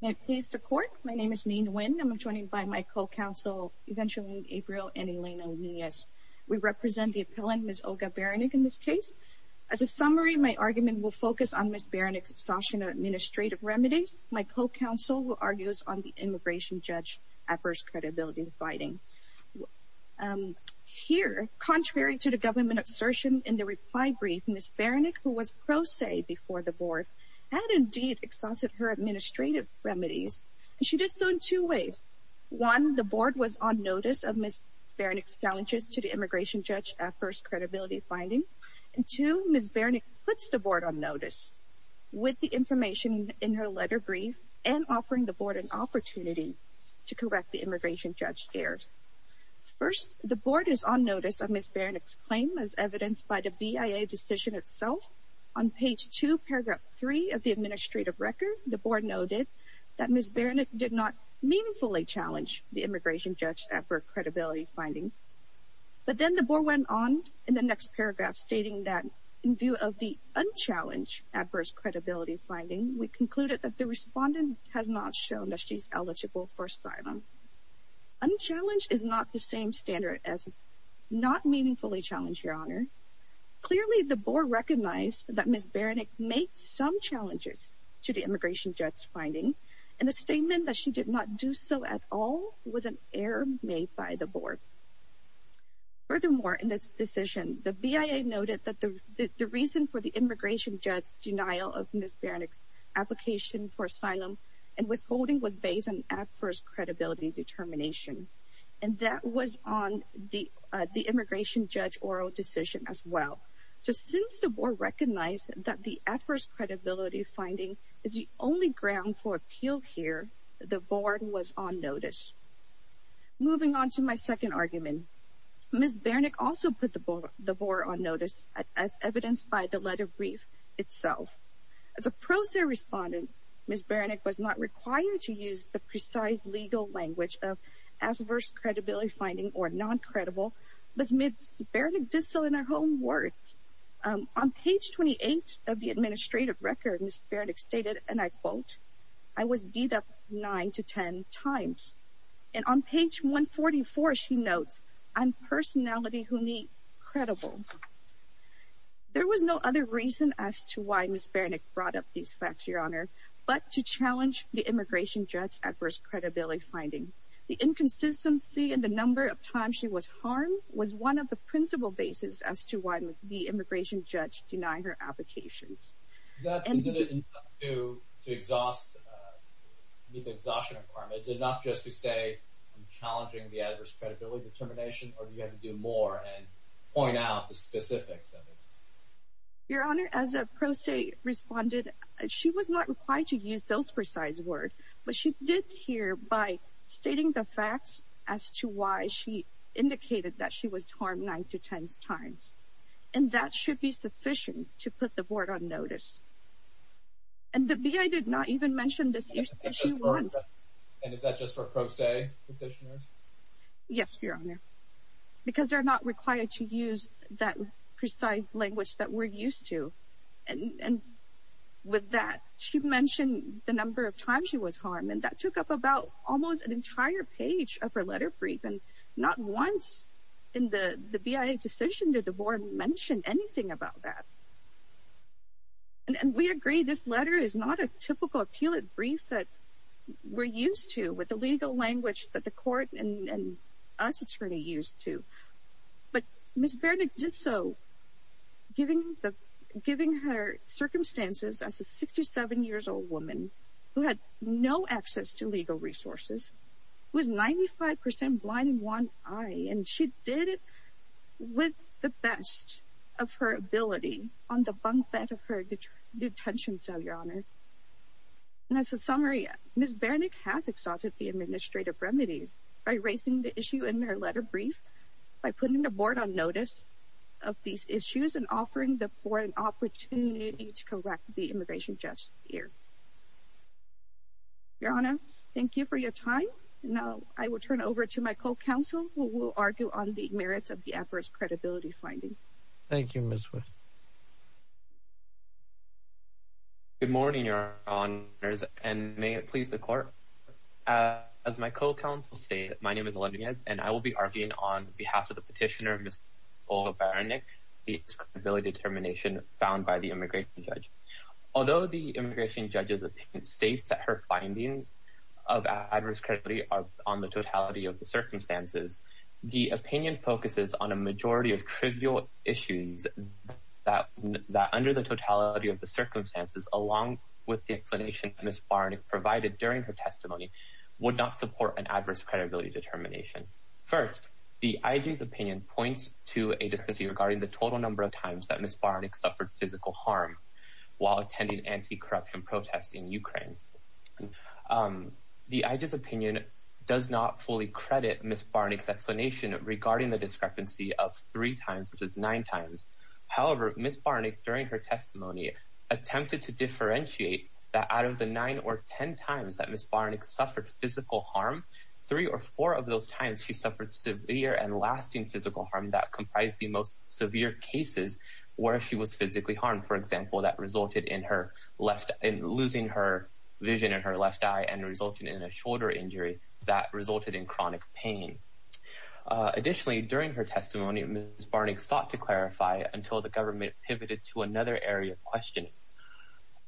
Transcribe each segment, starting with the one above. May it please the Court, my name is Neen Nguyen and I'm joined by my co-counsel Evangeline Abreu and Elena Nunez. We represent the appellant, Ms. Olga Barannik, in this case. As a summary, my argument will focus on Ms. Barannik's exhaustion of administrative remedies. My co-counsel will argue us on the immigration judge adverse credibility dividing. Here, contrary to the government assertion in the reply brief, Ms. Barannik, who was pro se before the board, had indeed exhausted her administrative remedies. She did so in two ways. One, the board was on notice of Ms. Barannik's challenges to the immigration judge adverse credibility finding. And two, Ms. Barannik puts the board on notice with the information in her letter brief and offering the board an opportunity to correct the immigration judge errors. First, the board is on notice of Ms. Barannik's claim as evidenced by the BIA decision itself on page 2, paragraph 3 of the administrative record. The board noted that Ms. Barannik did not meaningfully challenge the immigration judge adverse credibility finding. But then the board went on in the next paragraph stating that in view of the unchallenged adverse credibility finding, we concluded that the respondent has not shown that she's eligible for asylum. Unchallenged is not the same standard as not meaningfully challenged, Your Honor. Clearly, the board recognized that Ms. Barannik made some challenges to the immigration judge's finding. And the statement that she did not do so at all was an error made by the board. Furthermore, in this decision, the BIA noted that the reason for the immigration judge's denial of Ms. Barannik's application for asylum and withholding was based on adverse credibility determination. And that was on the immigration judge oral decision as well. So since the board recognized that the adverse credibility finding is the only ground for appeal here, the board was on notice. Moving on to my second argument, Ms. Barannik also put the board on notice as evidenced by the letter brief itself. As a pro se respondent, Ms. Barannik was not required to use the precise legal language of adverse credibility finding or non-credible, but Ms. Barannik did so in her own words. On page 28 of the administrative record, Ms. Barannik stated, and I quote, I was beat up nine to ten times. And on page 144, she notes, I'm personality who need credible. There was no other reason as to why Ms. Barannik brought up these facts, Your Honor, but to challenge the immigration judge's adverse credibility finding. The inconsistency in the number of times she was harmed was one of the principal basis as to why the immigration judge denied her applications. Is that enough to exhaust, meet the exhaustion requirement? Is it enough just to say I'm challenging the adverse credibility determination, or do you have to do more and point out the specifics of it? Your Honor, as a pro se respondent, she was not required to use those precise words, but she did here by stating the facts as to why she indicated that she was harmed nine to ten times. And that should be sufficient to put the board on notice. And the BIA did not even mention this issue once. And is that just for pro se petitioners? Yes, Your Honor, because they're not required to use that precise language that we're used to. And with that, she mentioned the number of times she was harmed, and that took up about almost an entire page of her letter brief. And not once in the BIA decision did the board mention anything about that. And we agree this letter is not a typical appellate brief that we're used to with the legal language that the court and us attorney used to. But Ms. Bernick did so, giving her circumstances as a 67-year-old woman who had no access to legal resources, was 95% blind in one eye, and she did it with the best of her ability on the bunk bed of her detention cell, Your Honor. And as a summary, Ms. Bernick has exhausted the administrative remedies by erasing the issue in her letter brief, by putting the board on notice of these issues, and offering the board an opportunity to correct the immigration judge here. Your Honor, thank you for your time. Now I will turn it over to my co-counsel, who will argue on the merits of the adverse credibility finding. Thank you, Ms. Wood. Good morning, Your Honors, and may it please the court. As my co-counsel stated, my name is Elendrez, and I will be arguing on behalf of the petitioner, Ms. Olga Bernick, the credibility determination found by the immigration judge. Although the immigration judge's opinion states that her findings of adverse credibility are on the totality of the circumstances, the opinion focuses on a majority of trivial issues that under the totality of the circumstances, along with the explanation Ms. Bernick provided during her testimony, would not support an adverse credibility determination. First, the IG's opinion points to a deficiency regarding the total number of times that Ms. Bernick suffered physical harm while attending anti-corruption protests in Ukraine. The IG's opinion does not fully credit Ms. Bernick's explanation regarding the discrepancy of three times, which is nine times. However, Ms. Bernick, during her testimony, attempted to differentiate that out of the nine or ten times that Ms. Bernick suffered physical harm, three or four of those times she suffered severe and lasting physical harm that comprised the most severe cases where she was physically harmed. For example, that resulted in her losing her vision in her left eye and resulted in a shoulder injury that resulted in chronic pain. Additionally, during her testimony, Ms. Bernick sought to clarify until the government pivoted to another area of questioning.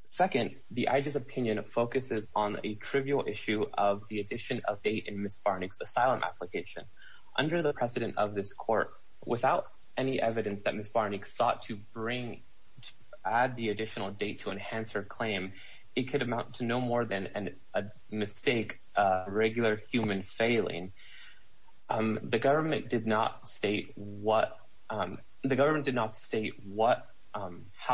Second, the IG's opinion focuses on a trivial issue of the addition of aid in Ms. Bernick's asylum application. Under the precedent of this court, without any evidence that Ms. Bernick sought to add the additional date to enhance her claim, it could amount to no more than a mistake, a regular human failing. The government did not state how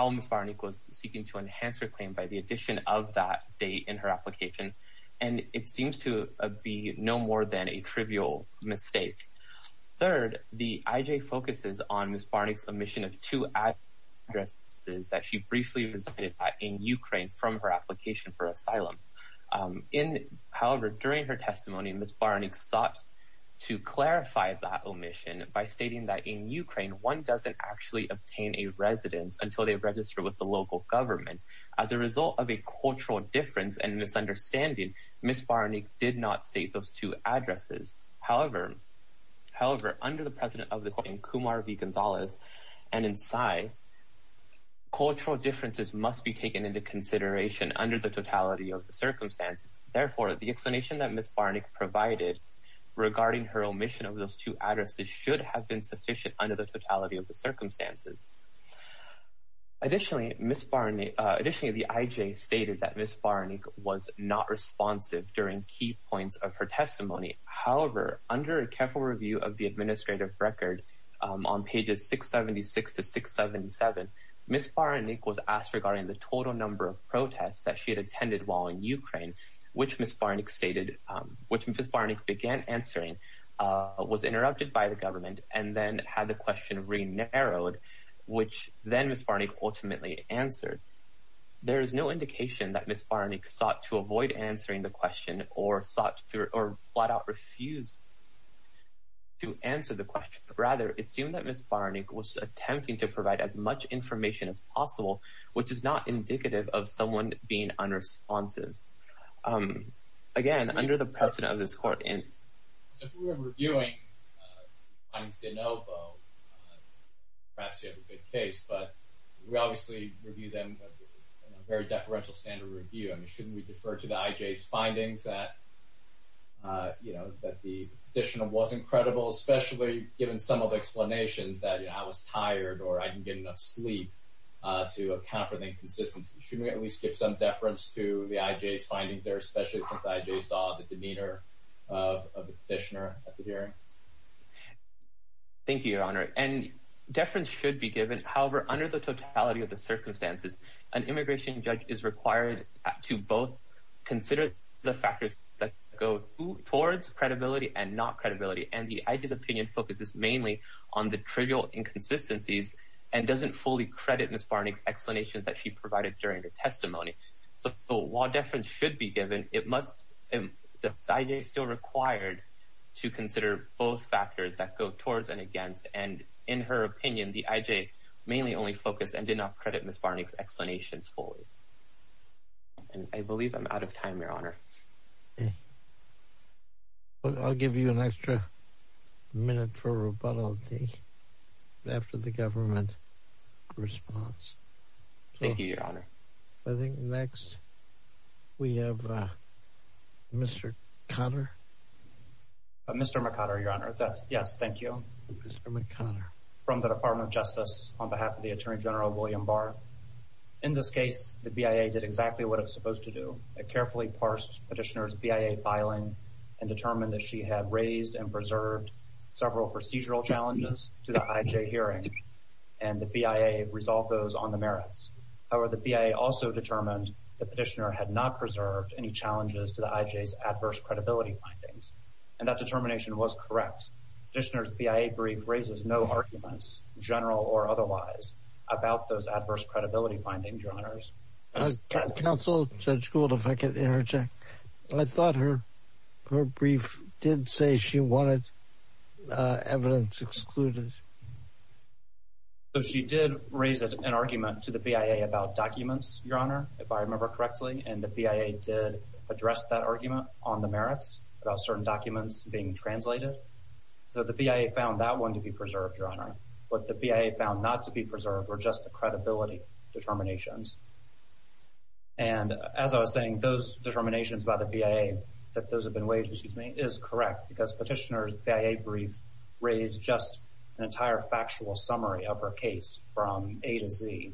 Ms. Bernick was seeking to enhance her claim by the addition of that date in her application, and it seems to be no more than a trivial mistake. Third, the IG focuses on Ms. Bernick's omission of two addresses that she briefly visited in Ukraine from her application for asylum. However, during her testimony, Ms. Bernick sought to clarify that omission by stating that in Ukraine, one doesn't actually obtain a residence until they register with the local government. As a result of a cultural difference and misunderstanding, Ms. Bernick did not state those two addresses. However, under the precedent of this court in Kumar v. Gonzalez and in Sai, cultural differences must be taken into consideration under the totality of the circumstances. Therefore, the explanation that Ms. Bernick provided regarding her omission of those two addresses should have been sufficient under the totality of the circumstances. Additionally, the IG stated that Ms. Bernick was not responsive during key points of her testimony. However, under a careful review of the administrative record on pages 676 to 677, Ms. Bernick was asked regarding the total number of protests that she had attended while in Ukraine, which Ms. Bernick began answering, was interrupted by the government, and then had the question re-narrowed, which then Ms. Bernick ultimately answered. There is no indication that Ms. Bernick sought to avoid answering the question or sought to, or flat out refused to answer the question. Rather, it seemed that Ms. Bernick was attempting to provide as much information as possible, which is not indicative of someone being unresponsive. Again, under the precedent of this court and... So if we were reviewing the findings of De Novo, perhaps you have a good case, but we obviously review them in a very deferential standard of review. I mean, shouldn't we defer to the IJ's findings that, you know, that the petitioner wasn't credible, especially given some of the explanations that, you know, I was tired or I didn't get enough sleep to account for the inconsistency? Shouldn't we at least give some deference to the IJ's findings there, especially since the IJ saw the demeanor of the petitioner at the hearing? Thank you, Your Honor. And deference should be given. However, under the totality of the circumstances, an immigration judge is required to both consider the factors that go towards credibility and not credibility, and the IJ's opinion focuses mainly on the trivial inconsistencies and doesn't fully credit Ms. Barney's explanations that she provided during her testimony. So while deference should be given, it must... The IJ is still required to consider both factors that go towards and against, and in her opinion, the IJ mainly only focused and did not credit Ms. Barney's explanations fully. And I believe I'm out of time, Your Honor. I'll give you an extra minute for rebuttal after the government response. Thank you, Your Honor. I think next we have Mr. Conner. Mr. McConner, Your Honor. Yes, thank you. Mr. McConner. From the Department of Justice, on behalf of the Attorney General, William Barr. In this case, the BIA did exactly what it was supposed to do. It carefully parsed Petitioner's BIA filing and determined that she had raised and preserved several procedural challenges to the IJ hearing, and the BIA resolved those on the merits. However, the BIA also determined that Petitioner had not preserved any challenges to the IJ's adverse credibility findings, and that determination was correct. Petitioner's BIA brief raises no arguments, general or otherwise, about those adverse credibility findings, Your Honors. Counsel, Judge Gould, if I could interject. I thought her brief did say she wanted evidence excluded. She did raise an argument to the BIA about documents, Your Honor, if I remember correctly, and the BIA did address that argument on the merits about certain documents being translated. So the BIA found that one to be preserved, Your Honor. What the BIA found not to be preserved were just the credibility determinations. And as I was saying, those determinations by the BIA that those have been waived, excuse me, is correct, because Petitioner's BIA brief raised just an entire factual summary of her case from A to Z.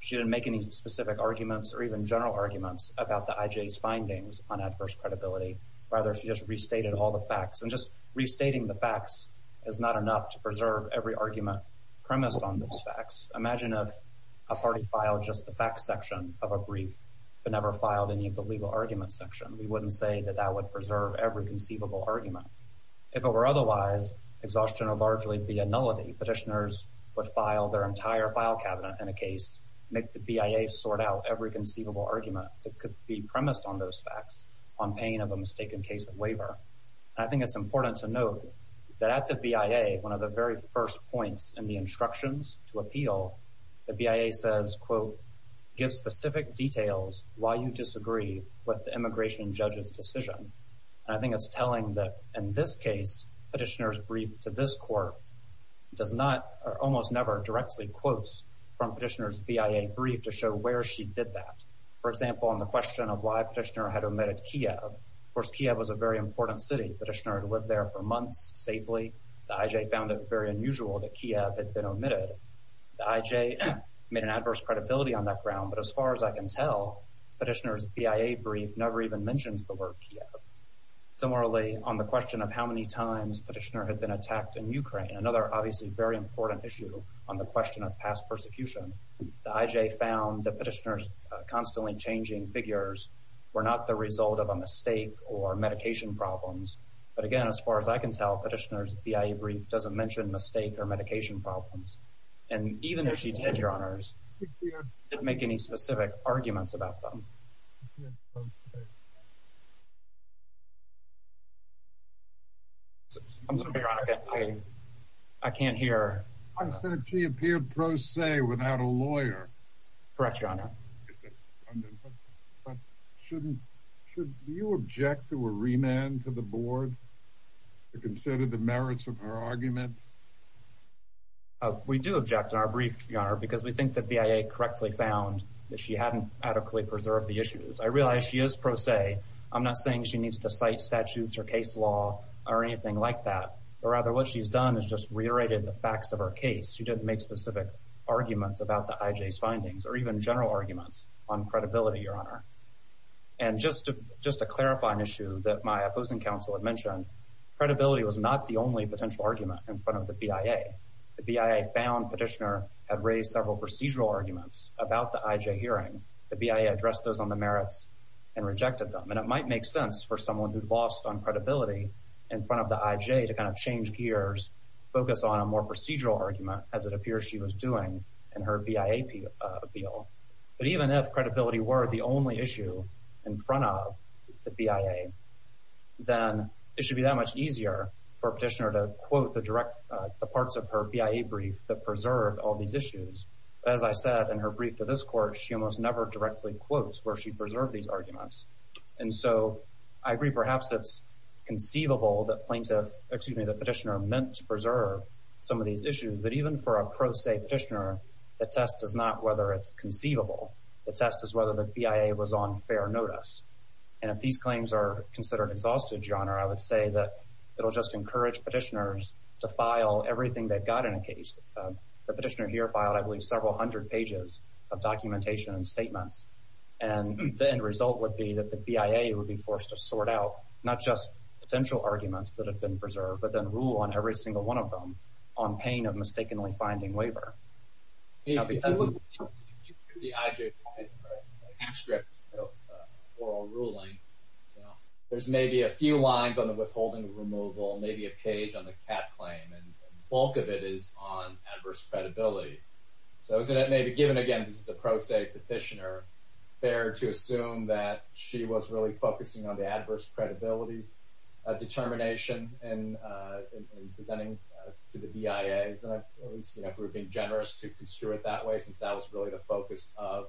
She didn't make any specific arguments or even general arguments about the IJ's findings on adverse credibility. Rather, she just restated all the facts. And just restating the facts is not enough to preserve every argument premised on those facts. Imagine if a party filed just the facts section of a brief but never filed any of the legal arguments section. We wouldn't say that that would preserve every conceivable argument. If it were otherwise, exhaustion would largely be a nullity. Petitioners would file their entire file cabinet in a case, make the BIA sort out every conceivable argument that could be premised on those facts on pain of a mistaken case of waiver. I think it's important to note that at the BIA, one of the very first points in the instructions to appeal, the BIA says, quote, give specific details why you disagree with the immigration judge's decision. And I think it's telling that in this case, petitioner's brief to this court does not, or almost never directly quotes from petitioner's BIA brief to show where she did that. For example, on the question of why petitioner had omitted Kiev. Of course, Kiev was a very important city. Petitioner had lived there for months safely. The IJ found it very unusual that Kiev had been omitted. The IJ made an adverse credibility on that ground. But as far as I can tell, petitioner's BIA brief never even mentions the word Kiev. Similarly, on the question of how many times petitioner had been attacked in Ukraine, another obviously very important issue on the question of past persecution, the IJ found that petitioner's constantly changing figures were not the result of a mistake or medication problems. But again, as far as I can tell, petitioner's BIA brief doesn't mention mistake or medication problems. And even if she did, Your Honors, she didn't make any specific arguments about them. I'm sorry, Your Honor, I can't hear. She appeared pro se without a lawyer. Correct, Your Honor. But should you object to a remand to the board to consider the merits of her argument? We do object in our brief, Your Honor, because we think that BIA correctly found that she hadn't adequately preserved the issues. I realize she is pro se. I'm not saying she needs to cite statutes or case law or anything like that. But rather what she's done is just reiterated the facts of her case. She didn't make specific arguments about the IJ's findings or even general arguments on credibility, Your Honor. And just to clarify an issue that my opposing counsel had mentioned, credibility was not the only potential argument in front of the BIA. The BIA found petitioner had raised several procedural arguments about the IJ hearing. The BIA addressed those on the merits and rejected them. And it might make sense for someone who'd lost on credibility in front of the IJ to kind of change gears, focus on a more procedural argument, as it appears she was doing in her BIA appeal. But even if credibility were the only issue in front of the BIA, then it should be that much easier for a petitioner to quote the direct parts of her BIA brief that preserved all these issues. As I said in her brief to this court, she almost never directly quotes where she preserved these arguments. And so I agree perhaps it's conceivable that plaintiff, excuse me, the petitioner meant to preserve some of these issues. But even for a pro se petitioner, the test is not whether it's conceivable. The test is whether the BIA was on fair notice. And if these claims are considered exhaustive, Your Honor, I would say that it'll just encourage petitioners to file everything they've got in a case. The petitioner here filed, I believe, several hundred pages of documentation and statements. And the end result would be that the BIA would be forced to sort out not just potential arguments that have been preserved, but then rule on every single one of them on pain of mistakenly finding waiver. If you look at the IJPI transcript of oral ruling, there's maybe a few lines on the withholding of removal, maybe a page on the cap claim. And the bulk of it is on adverse credibility. So given, again, this is a pro se petitioner, fair to assume that she was really focusing on the adverse credibility determination in presenting to the BIA. Isn't that at least, you know, if we're being generous to construe it that way since that was really the focus of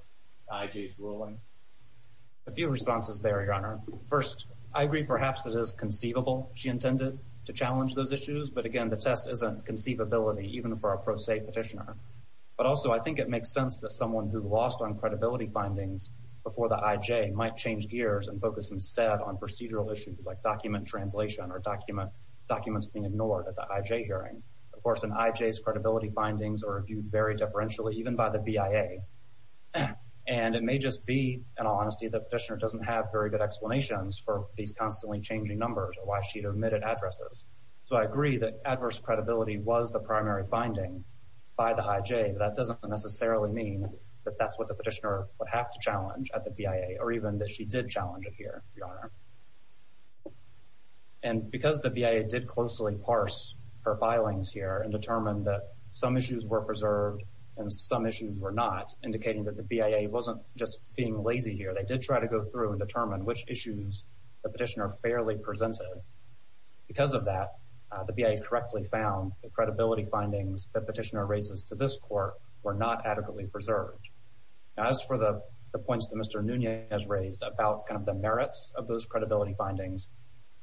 IJ's ruling? A few responses there, Your Honor. First, I agree perhaps it is conceivable she intended to challenge those issues. But, again, the test isn't conceivability even for a pro se petitioner. But also I think it makes sense that someone who lost on credibility findings before the IJ might change gears and focus instead on procedural issues like document translation or documents being ignored at the IJ hearing. Of course, an IJ's credibility findings are viewed very differentially even by the BIA. And it may just be, in all honesty, the petitioner doesn't have very good explanations for these constantly changing numbers or why she omitted addresses. So I agree that adverse credibility was the primary finding by the IJ. That doesn't necessarily mean that that's what the petitioner would have to challenge at the BIA or even that she did challenge it here, Your Honor. And because the BIA did closely parse her filings here and determined that some issues were preserved and some issues were not, indicating that the BIA wasn't just being lazy here. They did try to go through and determine which issues the petitioner fairly presented. Because of that, the BIA correctly found the credibility findings the petitioner raises to this court were not adequately preserved. As for the points that Mr. Nunez raised about kind of the merits of those credibility findings,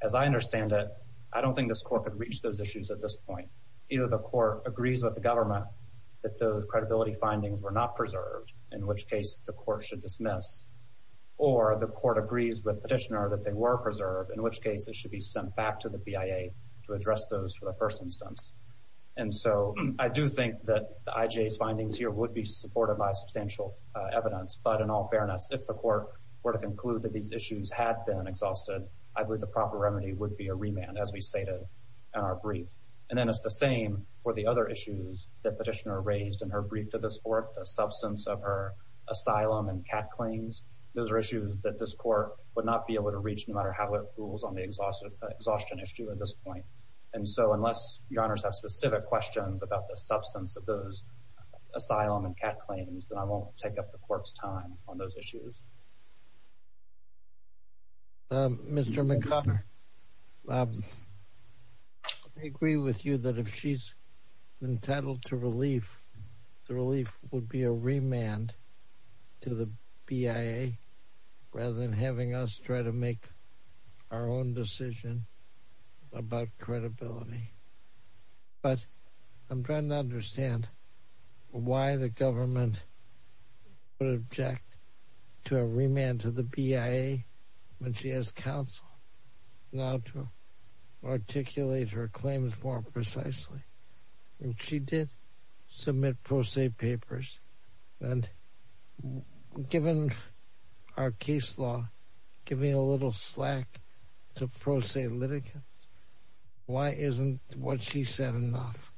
as I understand it, I don't think this court could reach those issues at this point. Either the court agrees with the government that those credibility findings were not preserved, in which case the court should dismiss, or the court agrees with the petitioner that they were preserved, in which case it should be sent back to the BIA to address those for the first instance. And so I do think that the IJ's findings here would be supported by substantial evidence. But in all fairness, if the court were to conclude that these issues had been exhausted, I believe the proper remedy would be a remand, as we stated in our brief. And then it's the same for the other issues that the petitioner raised in her brief to this court, the substance of her asylum and cat claims. Those are issues that this court would not be able to reach no matter how it rules on the exhaustion issue at this point. And so unless your honors have specific questions about the substance of those asylum and cat claims, then I won't take up the court's time on those issues. Mr. McConnor, I agree with you that if she's entitled to relief, the relief would be a remand to the BIA rather than having us try to make our own decision about credibility. But I'm trying to understand why the government would object to a remand to the BIA when she has counsel now to articulate her claims more precisely. She did submit pro se papers and given our case law, giving a little slack to pro se litigants, why isn't what she said enough?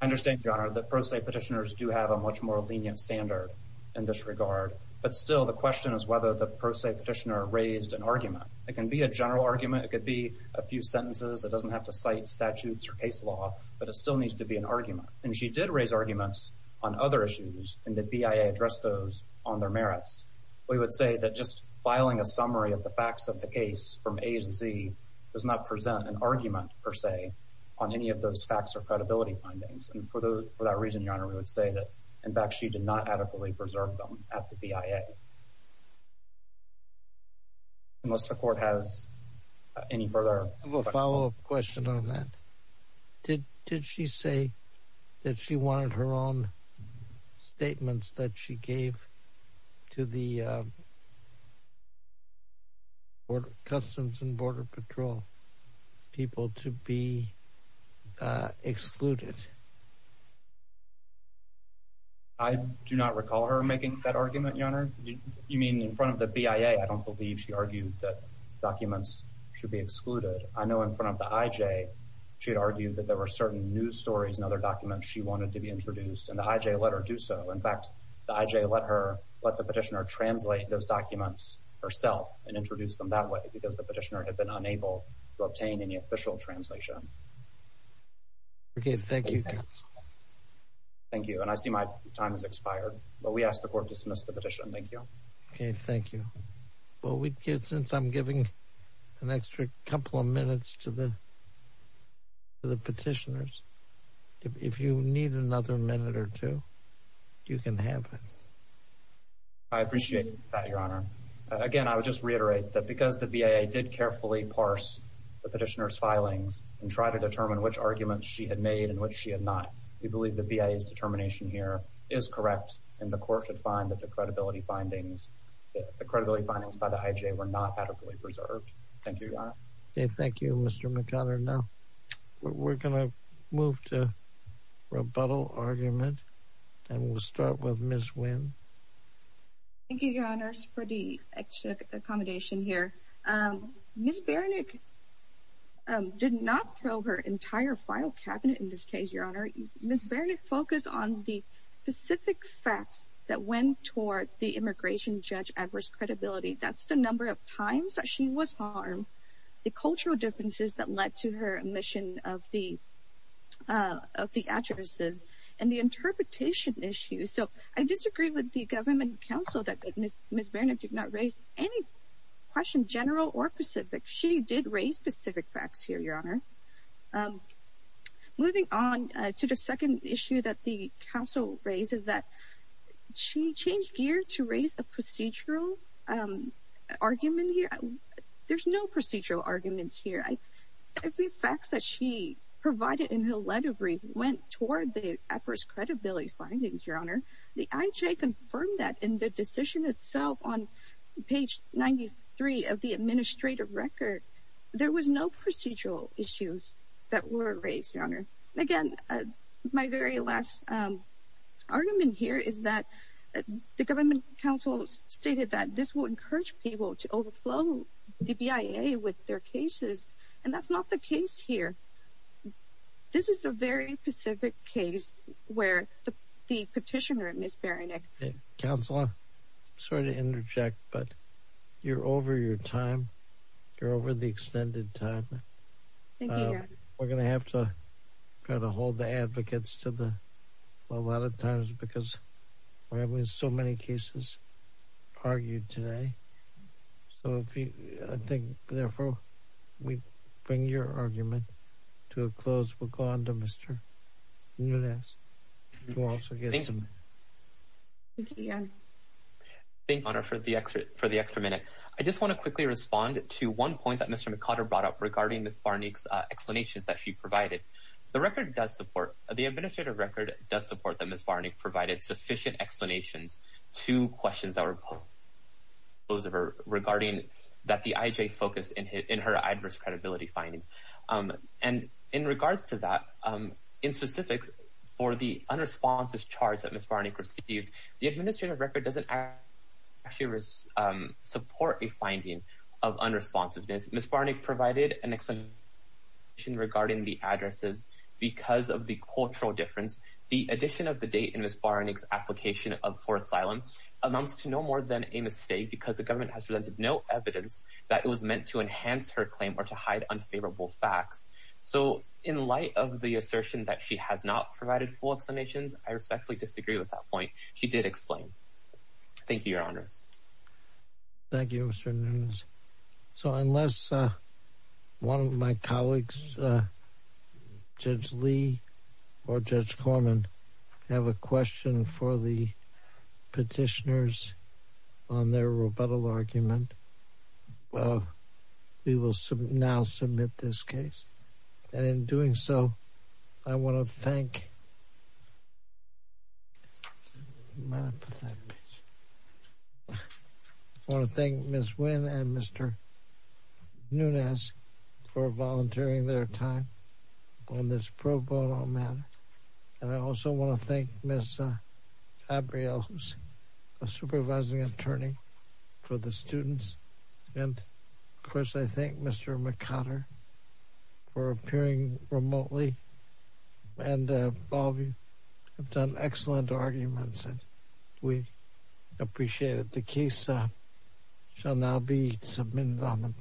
I understand, your honor, that pro se petitioners do have a much more lenient standard in this regard. But still, the question is whether the pro se petitioner raised an argument. It can be a general argument, it could be a few sentences, it doesn't have to cite statutes or case law, but it still needs to be an argument. And she did raise arguments on other issues and the BIA addressed those on their merits. We would say that just filing a summary of the facts of the case from A to Z does not present an argument per se on any of those facts or credibility findings. And for that reason, your honor, we would say that in fact she did not adequately preserve them at the BIA. Unless the court has any further questions. I have a follow up question on that. Did she say that she wanted her own statements that she gave to the Customs and Border Patrol people to be excluded? I do not recall her making that argument, your honor. You mean in front of the BIA? I don't believe she argued that documents should be excluded. I know in front of the IJ she had argued that there were certain news stories and other documents she wanted to be introduced and the IJ let her do so. In fact, the IJ let the petitioner translate those documents herself and introduce them that way because the petitioner had been unable to obtain any official translation. Okay, thank you, counsel. Thank you. And I see my time has expired, but we ask the court to dismiss the petition. Thank you. Okay, thank you. Well, since I'm giving an extra couple of minutes to the petitioners, if you need another minute or two, you can have it. I appreciate that, your honor. Again, I would just reiterate that because the BIA did carefully parse the petitioner's filings and try to determine which arguments she had made and which she had not, we believe the BIA's determination here is correct and the court should find that the credibility findings by the IJ were not adequately preserved. Thank you, your honor. Okay, thank you, Mr. McConner. Now, we're going to move to rebuttal argument, and we'll start with Ms. Wynn. Thank you, your honors, for the extra accommodation here. Ms. Berenik did not throw her entire file cabinet in this case, your honor. Ms. Berenik focused on the specific facts that went toward the immigration judge adverse credibility. That's the number of times that she was harmed, the cultural differences that led to her omission of the addresses, and the interpretation issues. So I disagree with the government counsel that Ms. Berenik did not raise any question general or specific. She did raise specific facts here, your honor. Moving on to the second issue that the counsel raised is that she changed gear to raise a procedural argument here. There's no procedural arguments here. Every fact that she provided in her letter brief went toward the adverse credibility findings, your honor. The IJ confirmed that in the decision itself on page 93 of the administrative record. There was no procedural issues that were raised, your honor. Again, my very last argument here is that the government counsel stated that this would encourage people to overflow the BIA with their cases, and that's not the case here. This is a very specific case where the petitioner, Ms. Berenik. Counselor, sorry to interject, but you're over your time. You're over the extended time. Thank you, your honor. We're going to have to kind of hold the advocates to a lot of times because we're having so many cases argued today. So I think, therefore, we bring your argument to a close. We'll go on to Mr. Nunez, who also gets a minute. Thank you, your honor. Thank you, your honor, for the extra minute. I just want to quickly respond to one point that Mr. McOtter brought up regarding Ms. Berenik's explanations that she provided. The administrative record does support that Ms. Berenik provided sufficient explanations to questions that were posed regarding that the IJ focused in her adverse credibility findings. And in regards to that, in specifics for the unresponsive charge that Ms. Berenik received, the administrative record doesn't actually support a finding of unresponsiveness. Ms. Berenik provided an explanation regarding the addresses because of the cultural difference. The addition of the date in Ms. Berenik's application for asylum amounts to no more than a mistake because the government has presented no evidence that it was meant to enhance her claim or to hide unfavorable facts. So in light of the assertion that she has not provided full explanations, I respectfully disagree with that point. She did explain. Thank you, your honors. Thank you, Mr. Nunez. So unless one of my colleagues, Judge Lee or Judge Corman, have a question for the petitioners on their rebuttal argument, we will now submit this case. And in doing so, I want to thank Ms. Wynn and Mr. Nunez for volunteering their time on this pro bono matter. And I also want to thank Ms. Gabrielle, who's a supervising attorney for the students. And of course, I thank Mr. McConner for appearing remotely. And all of you have done excellent arguments, and we appreciate it. The case shall now be submitted.